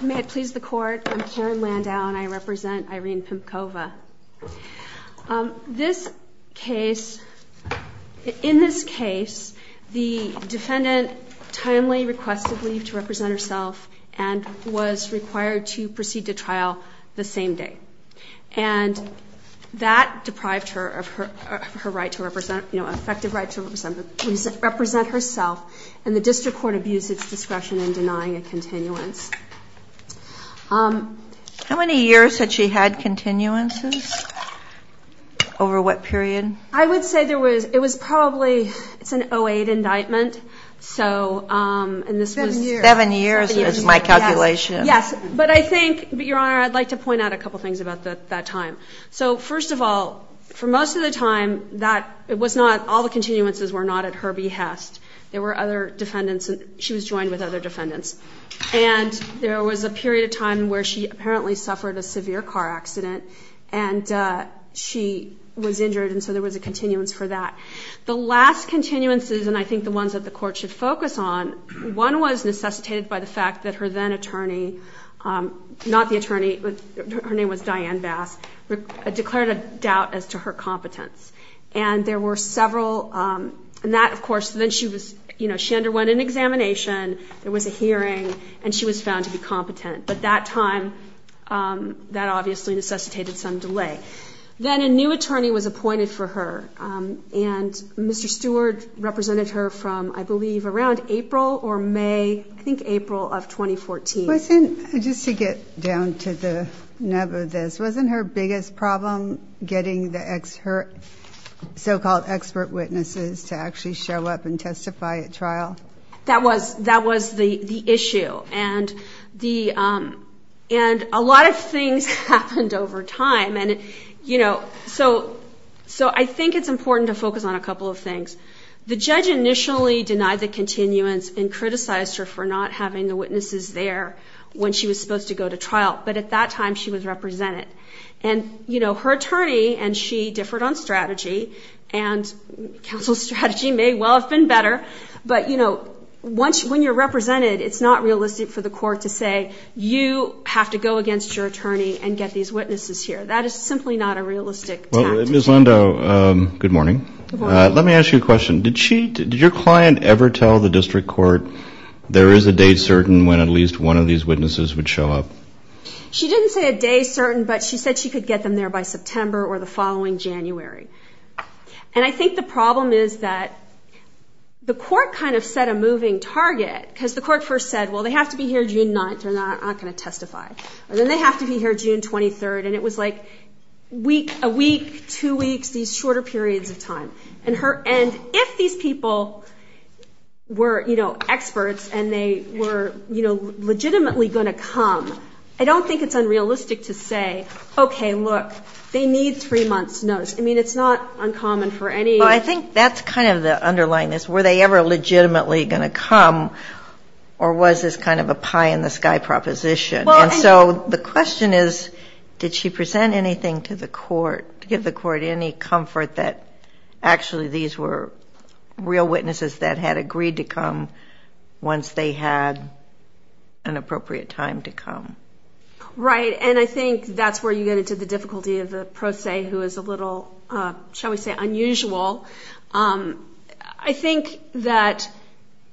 May it please the Court, I'm Karen Landau and I represent Irene Pemkova. This case, in this case, the defendant timely requested leave to represent herself and was required to proceed to trial the same day. And that deprived her of her right to represent, you know, an effective right to represent herself, and the district court abused its discretion in denying a continuance. How many years had she had continuances? Over what period? I would say there was, it was probably, it's an 08 indictment, so, and this was Seven years. Seven years is my calculation. Yes, but I think, Your Honor, I'd like to point out a couple things about that time. So, first of all, for most of the time, that, it was not, all the continuances were not at her behest. There were other defendants, she was joined with other defendants. And there was a period of time where she apparently suffered a severe car accident and she was injured, and so there was a continuance for that. The last continuances, and I think the ones that the Court should focus on, one was necessitated by the fact that her then attorney, not the attorney, her name was Diane Bass, declared a doubt as to her competence. And there were several, and that, of course, then she was, you know, she underwent an examination, there was a hearing, and she was found to be competent. But that time, that obviously necessitated some delay. Then a new attorney was appointed for her, and Mr. Stewart represented her from, I believe, around April or May, I think April of 2014. Wasn't, just to get down to the nub of this, wasn't her biggest problem getting the so-called expert witnesses to actually show up and testify at trial? That was the issue. And a lot of things happened over time. And, you know, so I think it's important to focus on a couple of things. The judge initially denied the continuance and criticized her for not having the witnesses there when she was supposed to go to trial. But at that time, she was represented. And, you know, her attorney and she differed on strategy, and counsel's strategy may well have been better. But, you know, when you're represented, it's not realistic for the court to say, you have to go against your attorney and get these witnesses here. That is simply not a realistic tact. Ms. Lindo, good morning. Good morning. Let me ask you a question. Did your client ever tell the district court there is a date certain when at least one of these witnesses would show up? She didn't say a day certain, but she said she could get them there by September or the following January. And I think the problem is that the court kind of set a moving target because the court first said, well, they have to be here June 9th or they're not going to testify. And then they have to be here June 23rd. And if these people were, you know, experts and they were, you know, legitimately going to come, I don't think it's unrealistic to say, okay, look, they need three months notice. I mean, it's not uncommon for any. Well, I think that's kind of the underlying this. Were they ever legitimately going to come or was this kind of a pie-in-the-sky proposition? And so the question is, did she present anything to the court to give the court any comfort that actually these were real witnesses that had agreed to come once they had an appropriate time to come? Right. And I think that's where you get into the difficulty of the pro se who is a little, shall we say, unusual. I think that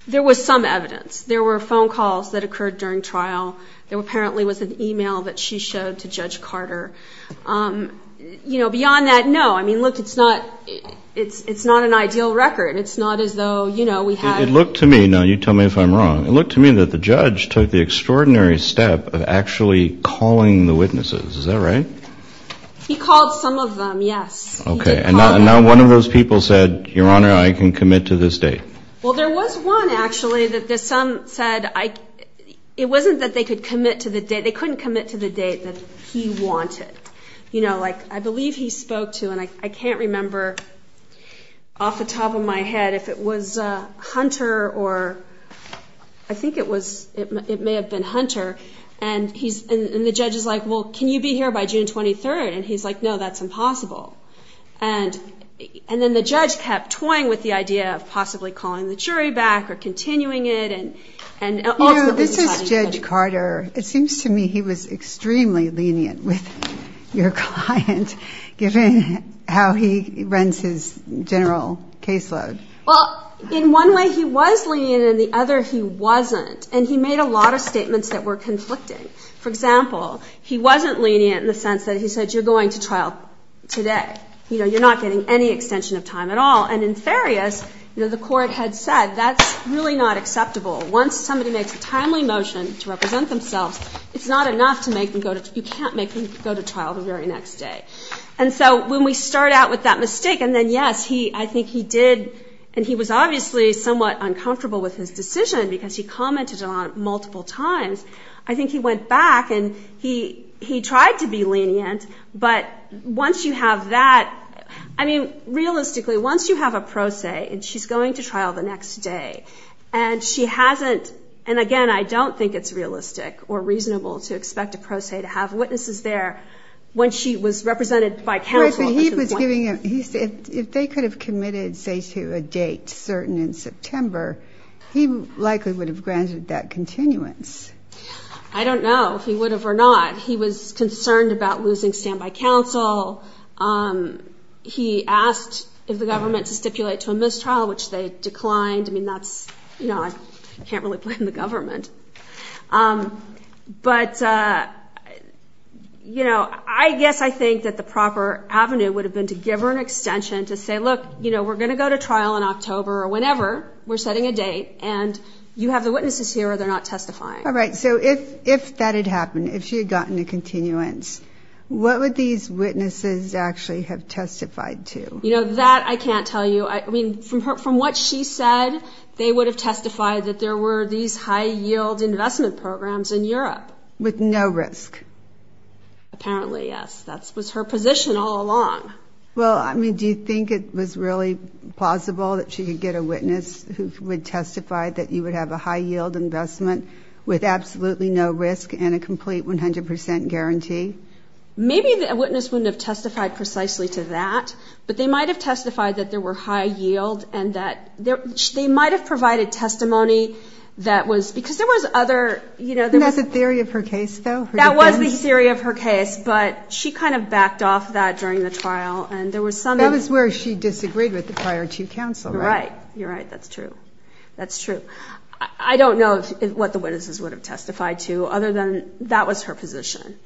there was some evidence. There were phone calls that occurred during trial. There apparently was an email that she showed to Judge Carter. You know, beyond that, no. I mean, look, it's not an ideal record. It's not as though, you know, we had to. It looked to me, now you tell me if I'm wrong, it looked to me that the judge took the extraordinary step of actually calling the witnesses. Is that right? He called some of them, yes. Okay. And now one of those people said, Your Honor, I can commit to this date. Well, there was one actually that some said it wasn't that they could commit to the date. You know, like I believe he spoke to, and I can't remember off the top of my head if it was Hunter or I think it was, it may have been Hunter, and the judge is like, Well, can you be here by June 23rd? And he's like, No, that's impossible. And then the judge kept toying with the idea of possibly calling the jury back or continuing it. You know, this is Judge Carter. It seems to me he was extremely lenient with your client, given how he runs his general caseload. Well, in one way he was lenient, and in the other he wasn't. And he made a lot of statements that were conflicting. For example, he wasn't lenient in the sense that he said, You're going to trial today. You know, you're not getting any extension of time at all. And in Farias, you know, the court had said, That's really not acceptable. Once somebody makes a timely motion to represent themselves, it's not enough to make them go to trial. You can't make them go to trial the very next day. And so when we start out with that mistake, and then, yes, I think he did, and he was obviously somewhat uncomfortable with his decision because he commented on it multiple times. I think he went back, and he tried to be lenient, but once you have that, I mean, realistically, once you have a pro se, and she's going to trial the next day, and she hasn't, and, again, I don't think it's realistic or reasonable to expect a pro se to have witnesses there when she was represented by counsel at some point. If they could have committed, say, to a date certain in September, he likely would have granted that continuance. I don't know if he would have or not. He was concerned about losing standby counsel. He asked if the government to stipulate to a mistrial, which they declined. I mean, that's, you know, I can't really blame the government. But, you know, I guess I think that the proper avenue would have been to give her an extension to say, look, you know, we're going to go to trial in October or whenever we're setting a date, and you have the witnesses here or they're not testifying. All right, so if that had happened, if she had gotten a continuance, what would these witnesses actually have testified to? You know, that I can't tell you. I mean, from what she said, they would have testified that there were these high-yield investment programs in Europe. With no risk? Apparently, yes. That was her position all along. Well, I mean, do you think it was really plausible that she could get a witness who would testify that you would have a high-yield investment with absolutely no risk and a complete 100% guarantee? Maybe the witness wouldn't have testified precisely to that, but they might have testified that there were high-yield and that they might have provided testimony that was because there was other, you know. And that's a theory of her case, though? That was the theory of her case, but she kind of backed off that during the trial. That was where she disagreed with the prior two counsel, right? Right, you're right. That's true. That's true. I don't know what the witnesses would have testified to other than that was her position.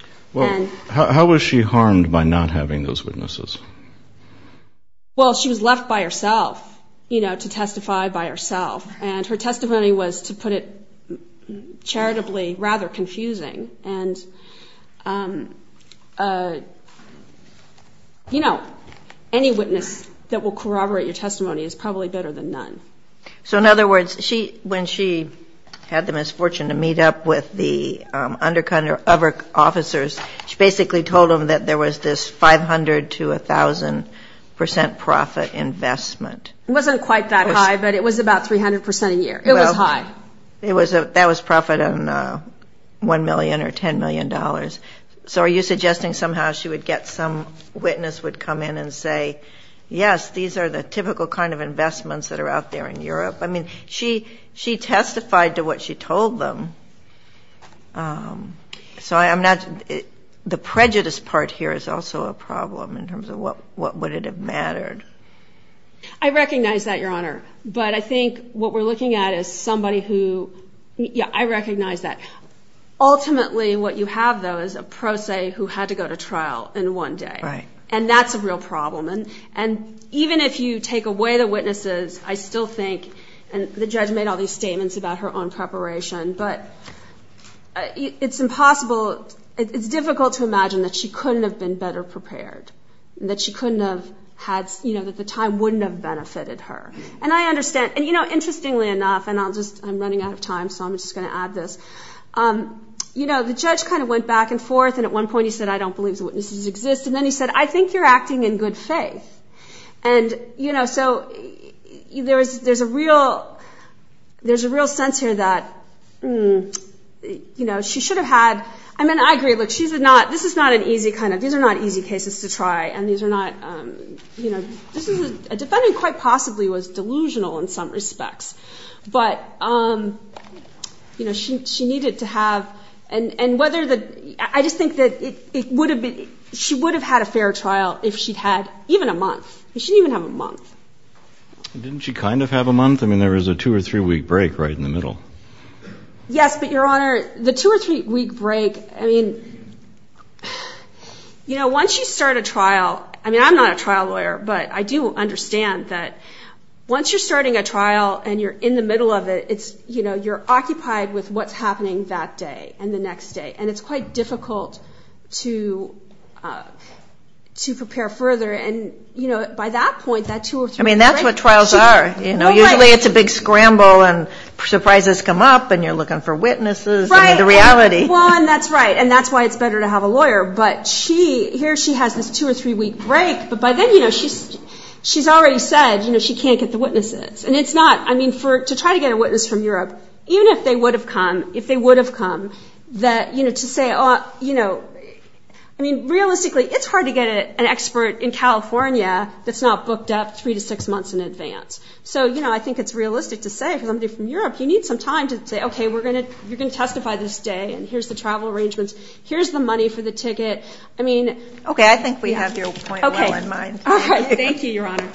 How was she harmed by not having those witnesses? Well, she was left by herself, you know, to testify by herself. And her testimony was, to put it charitably, rather confusing. And, you know, any witness that will corroborate your testimony is probably better than none. So, in other words, when she had the misfortune to meet up with the undercover officers, she basically told them that there was this 500 to 1,000% profit investment. It wasn't quite that high, but it was about 300% a year. It was high. That was profit on $1 million or $10 million. So are you suggesting somehow she would get some witness would come in and say, yes, these are the typical kind of investments that are out there in Europe? I mean, she testified to what she told them. So the prejudice part here is also a problem in terms of what would it have mattered. I recognize that, Your Honor. But I think what we're looking at is somebody who, yeah, I recognize that. Ultimately, what you have, though, is a pro se who had to go to trial in one day. Right. And that's a real problem. And even if you take away the witnesses, I still think, and the judge made all these statements about her own preparation, but it's impossible, it's difficult to imagine that she couldn't have been better prepared, that she couldn't have had, you know, that the time wouldn't have benefited her. And I understand. And, you know, interestingly enough, and I'll just, I'm running out of time, so I'm just going to add this, you know, the judge kind of went back and forth, and at one point he said, I don't believe the witnesses exist. And then he said, I think you're acting in good faith. And, you know, so there's a real sense here that, you know, she should have had, I mean, I agree, look, this is not an easy kind of, these are not easy cases to try, and these are not, you know, a defendant quite possibly was delusional in some respects. But, you know, she needed to have, and whether the, I just think that it would have been, she would have had a fair trial if she'd had even a month. She didn't even have a month. Didn't she kind of have a month? I mean, there was a two- or three-week break right in the middle. Yes, but, Your Honor, the two- or three-week break, I mean, you know, once you start a trial, I mean, I'm not a trial lawyer, but I do understand that once you're starting a trial and you're in the middle of it, it's, you know, you're occupied with what's happening that day and the next day. And it's quite difficult to prepare further. And, you know, by that point, that two- or three-week break. I mean, that's what trials are. You know, usually it's a big scramble and surprises come up and you're looking for witnesses. Right. I mean, the reality. Well, and that's right, and that's why it's better to have a lawyer. But she, here she has this two- or three-week break, but by then, you know, she's already said, you know, she can't get the witnesses. And it's not, I mean, for, to try to get a witness from Europe, even if they would have come, if they would have come, that, you know, to say, you know, I mean, realistically, it's hard to get an expert in California that's not booked up three to six months in advance. So, you know, I think it's realistic to say for somebody from Europe, you need some time to say, okay, you're going to testify this day and here's the travel arrangements, here's the money for the ticket. I mean. Okay, I think we have your point well in mind. Thank you, Your Honor.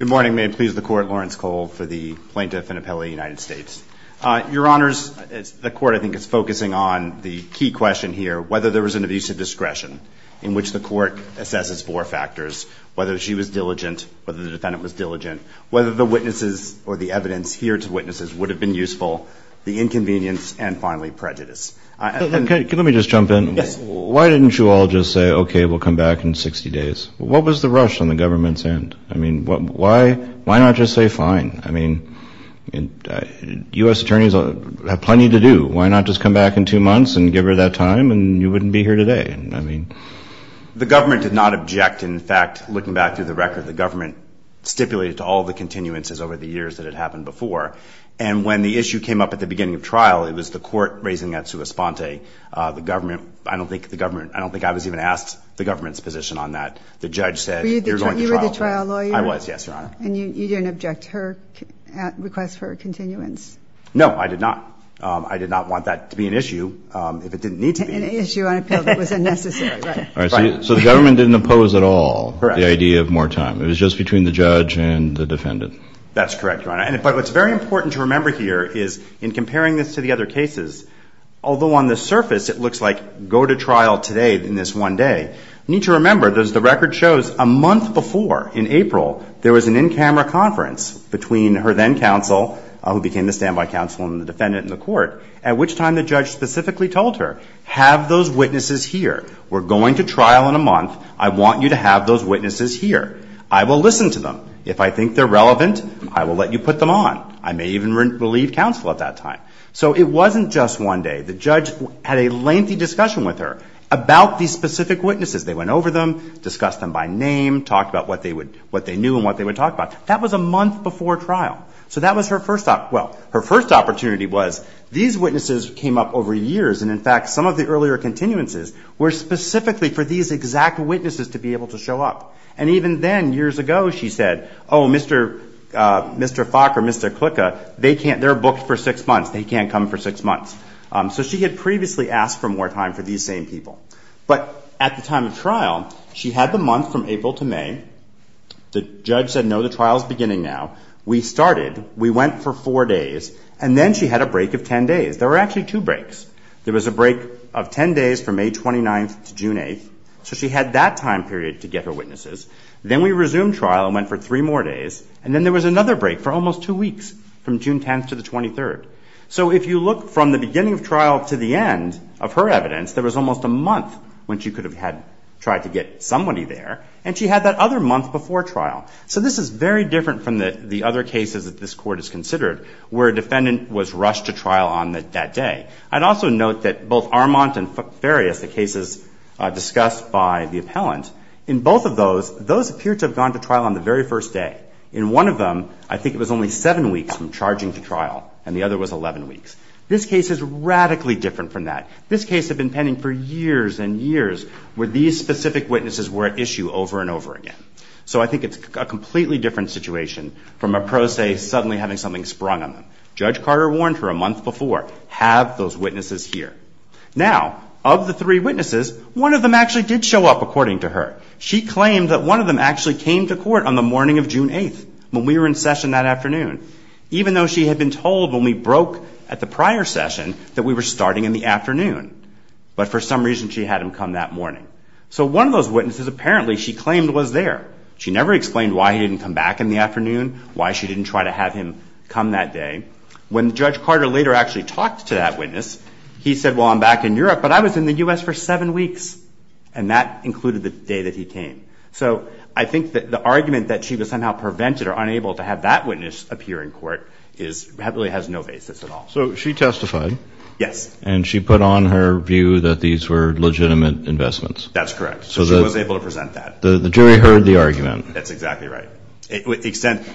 Good morning. May it please the Court, Lawrence Cole for the Plaintiff and Appeal of the United States. Your Honors, the Court, I think, is focusing on the key question here, whether there was an abusive discretion in which the Court assesses four factors, whether she was diligent, whether the defendant was diligent, whether the witnesses or the evidence here to witnesses would have been useful, the inconvenience, and finally prejudice. Let me just jump in. Yes. Why didn't you all just say, okay, we'll come back in 60 days? What was the rush on the government's end? I mean, why not just say fine? I mean, U.S. attorneys have plenty to do. Why not just come back in two months and give her that time and you wouldn't be here today? I mean. The government did not object. In fact, looking back through the record, the government stipulated to all the continuances over the years that it happened before. And when the issue came up at the beginning of trial, it was the Court raising that to a sponte. The government, I don't think the government, I don't think I was even asked the government's position on that. The judge said you're going to trial. Were you the trial lawyer? I was, yes, Your Honor. And you didn't object to her request for a continuance? No, I did not. I did not want that to be an issue if it didn't need to be. An issue on appeal that was unnecessary, right. Right. So the government didn't oppose at all. Correct. The idea of more time. It was just between the judge and the defendant. That's correct, Your Honor. But what's very important to remember here is, in comparing this to the other cases, although on the surface it looks like go to trial today in this one day, you need to remember, as the record shows, a month before, in April, there was an in-camera conference between her then counsel, who became the standby counsel and the defendant in the Court, at which time the judge specifically told her, have those witnesses here. We're going to trial in a month. I want you to have those witnesses here. I will listen to them. If I think they're relevant, I will let you put them on. I may even relieve counsel at that time. So it wasn't just one day. The judge had a lengthy discussion with her about these specific witnesses. They went over them, discussed them by name, talked about what they knew and what they would talk about. That was a month before trial. So that was her first opportunity was, these witnesses came up over years, and, in fact, some of the earlier continuances were specifically for these exact witnesses to be able to show up. And even then, years ago, she said, oh, Mr. Fock or Mr. Klicka, they're booked for six months. They can't come for six months. So she had previously asked for more time for these same people. But at the time of trial, she had the month from April to May. The judge said, no, the trial is beginning now. We started. We went for four days. And then she had a break of ten days. There were actually two breaks. There was a break of ten days from May 29th to June 8th. So she had that time period to get her witnesses. Then we resumed trial and went for three more days. And then there was another break for almost two weeks, from June 10th to the 23rd. So if you look from the beginning of trial to the end of her evidence, there was almost a month when she could have tried to get somebody there. And she had that other month before trial. So this is very different from the other cases that this Court has considered where a defendant was rushed to trial on that day. I'd also note that both Armand and Farias, the cases discussed by the appellant, in both of those, those appear to have gone to trial on the very first day. In one of them, I think it was only seven weeks from charging to trial, and the other was 11 weeks. This case is radically different from that. This case had been pending for years and years where these specific witnesses were at issue over and over again. So I think it's a completely different situation from a pro se suddenly having something sprung on them. Judge Carter warned her a month before, have those witnesses here. Now, of the three witnesses, one of them actually did show up, according to her. She claimed that one of them actually came to court on the morning of June 8th when we were in session that afternoon, even though she had been told when we broke at the prior session that we were starting in the afternoon. But for some reason, she had him come that morning. So one of those witnesses, apparently, she claimed was there. She never explained why he didn't come back in the afternoon, why she didn't try to have him come that day. When Judge Carter later actually talked to that witness, he said, well, I'm back in Europe, but I was in the U.S. for seven weeks. And that included the day that he came. So I think that the argument that she was somehow prevented or unable to have that witness appear in court really has no basis at all. So she testified. Yes. And she put on her view that these were legitimate investments. That's correct. So she was able to present that. The jury heard the argument. That's exactly right.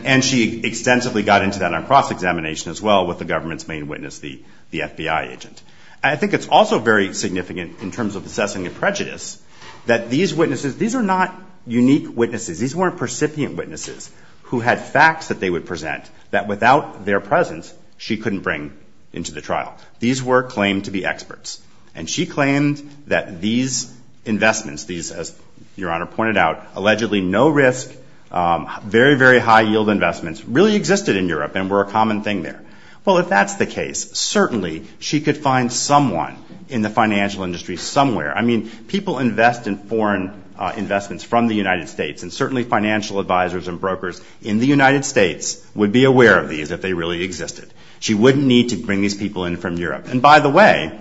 And she extensively got into that on cross-examination as well with the government's main witness, the FBI agent. I think it's also very significant in terms of assessing a prejudice that these witnesses, these are not unique witnesses. These weren't recipient witnesses who had facts that they would present that without their presence, she couldn't bring into the trial. These were claimed to be experts. And she claimed that these investments, these, as Your Honor pointed out, allegedly no-risk, very, very high-yield investments, really existed in Europe and were a common thing there. Well, if that's the case, certainly she could find someone in the financial industry somewhere. I mean, people invest in foreign investments from the United States, and certainly financial advisors and brokers in the United States would be aware of these if they really existed. She wouldn't need to bring these people in from Europe. And by the way,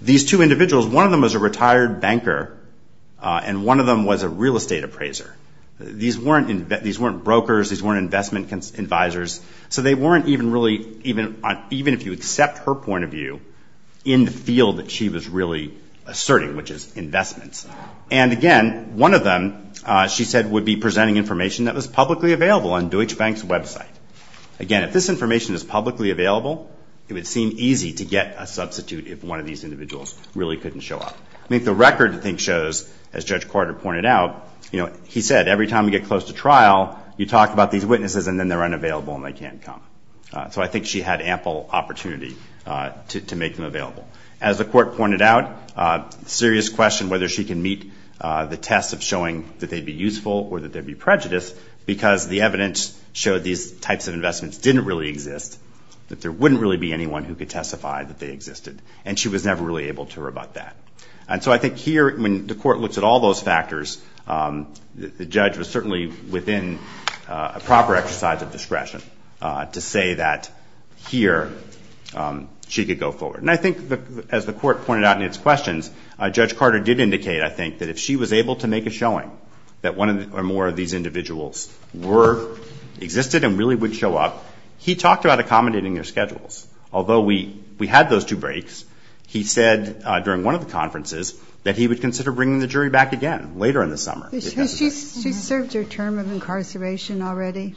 these two individuals, one of them was a retired banker and one of them was a real estate appraiser. These weren't brokers. These weren't investment advisors. So they weren't even really, even if you accept her point of view, in the field that she was really asserting, which is investments. And again, one of them, she said, would be presenting information that was publicly available on Deutsche Bank's website. Again, if this information is publicly available, it would seem easy to get a substitute if one of these individuals really couldn't show up. I mean, the record, I think, shows, as Judge Carter pointed out, he said, every time you get close to trial, you talk about these witnesses and then they're unavailable and they can't come. So I think she had ample opportunity to make them available. As the court pointed out, serious question whether she can meet the test of showing that they'd be useful or that they'd be prejudiced because the evidence showed these types of investments didn't really exist, that there wouldn't really be anyone who could testify that they existed. And she was never really able to rebut that. And so I think here, when the court looks at all those factors, the judge was certainly within a proper exercise of discretion to say that here she could go forward. And I think, as the court pointed out in its questions, Judge Carter did indicate, I think, that if she was able to make a showing that one or more of these individuals existed and really would show up, he talked about accommodating their schedules. Although we had those two breaks, he said during one of the conferences that he would consider bringing the jury back again later in the summer. She served her term of incarceration already?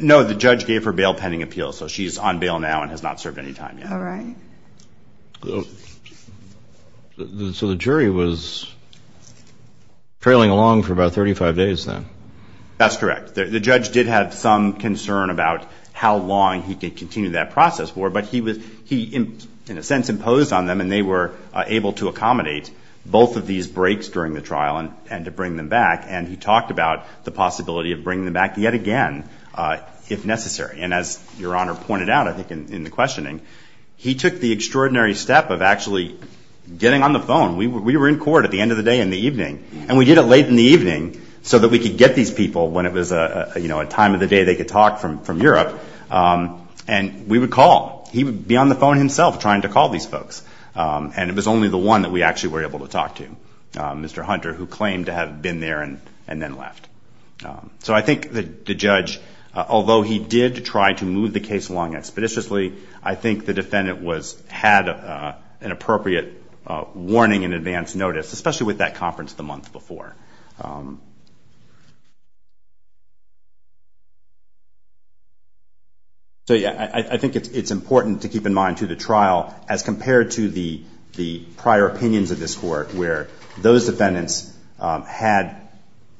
No, the judge gave her bail pending appeal, so she's on bail now and has not served any time yet. All right. So the jury was trailing along for about 35 days then? That's correct. The judge did have some concern about how long he could continue that process for, but he, in a sense, imposed on them, and they were able to accommodate both of these breaks during the trial and to bring them back. And he talked about the possibility of bringing them back yet again if necessary. And as Your Honor pointed out, I think, in the questioning, he took the extraordinary step of actually getting on the phone. We were in court at the end of the day and the evening, and we did it late in the evening so that we could get these people when it was a time of the day they could talk from Europe. And we would call. He would be on the phone himself trying to call these folks, and it was only the one that we actually were able to talk to, Mr. Hunter, who claimed to have been there and then left. So I think the judge, although he did try to move the case along expeditiously, I think the defendant had an appropriate warning in advance notice, especially with that conference the month before. So, yeah, I think it's important to keep in mind, too, the trial as compared to the prior opinions of this court where those defendants had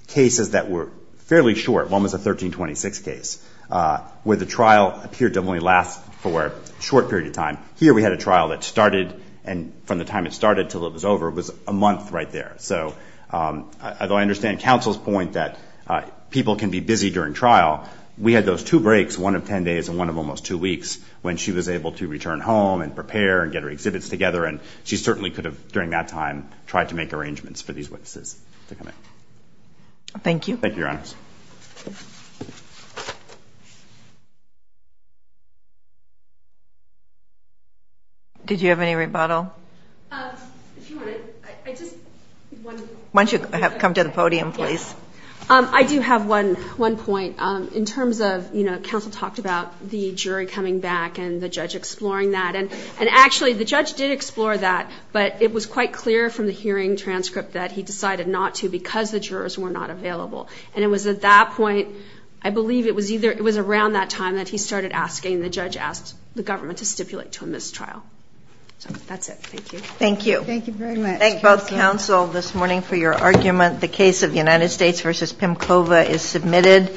cases that were fairly short. One was a 1326 case where the trial appeared to only last for a short period of time. Here we had a trial that started, and from the time it started until it was over, it was a month right there. So although I understand counsel's point that people can be busy during trial, we had those two breaks, one of 10 days and one of almost two weeks, when she was able to return home and prepare and get her exhibits together, and she certainly could have, during that time, tried to make arrangements for these witnesses to come in. Thank you. Thank you, Your Honor. Did you have any rebuttal? Why don't you come to the podium, please? I do have one point. In terms of, you know, counsel talked about the jury coming back and the judge exploring that, and actually the judge did explore that, but it was quite clear from the hearing transcript that he decided not to because the jurors were not available. And it was at that point, I believe it was around that time that he started asking, the judge asked the government to stipulate to him this trial. So that's it. Thank you. Thank you. Thank you very much. Thank you both, counsel, this morning for your argument. The case of United States v. Pimkova is submitted.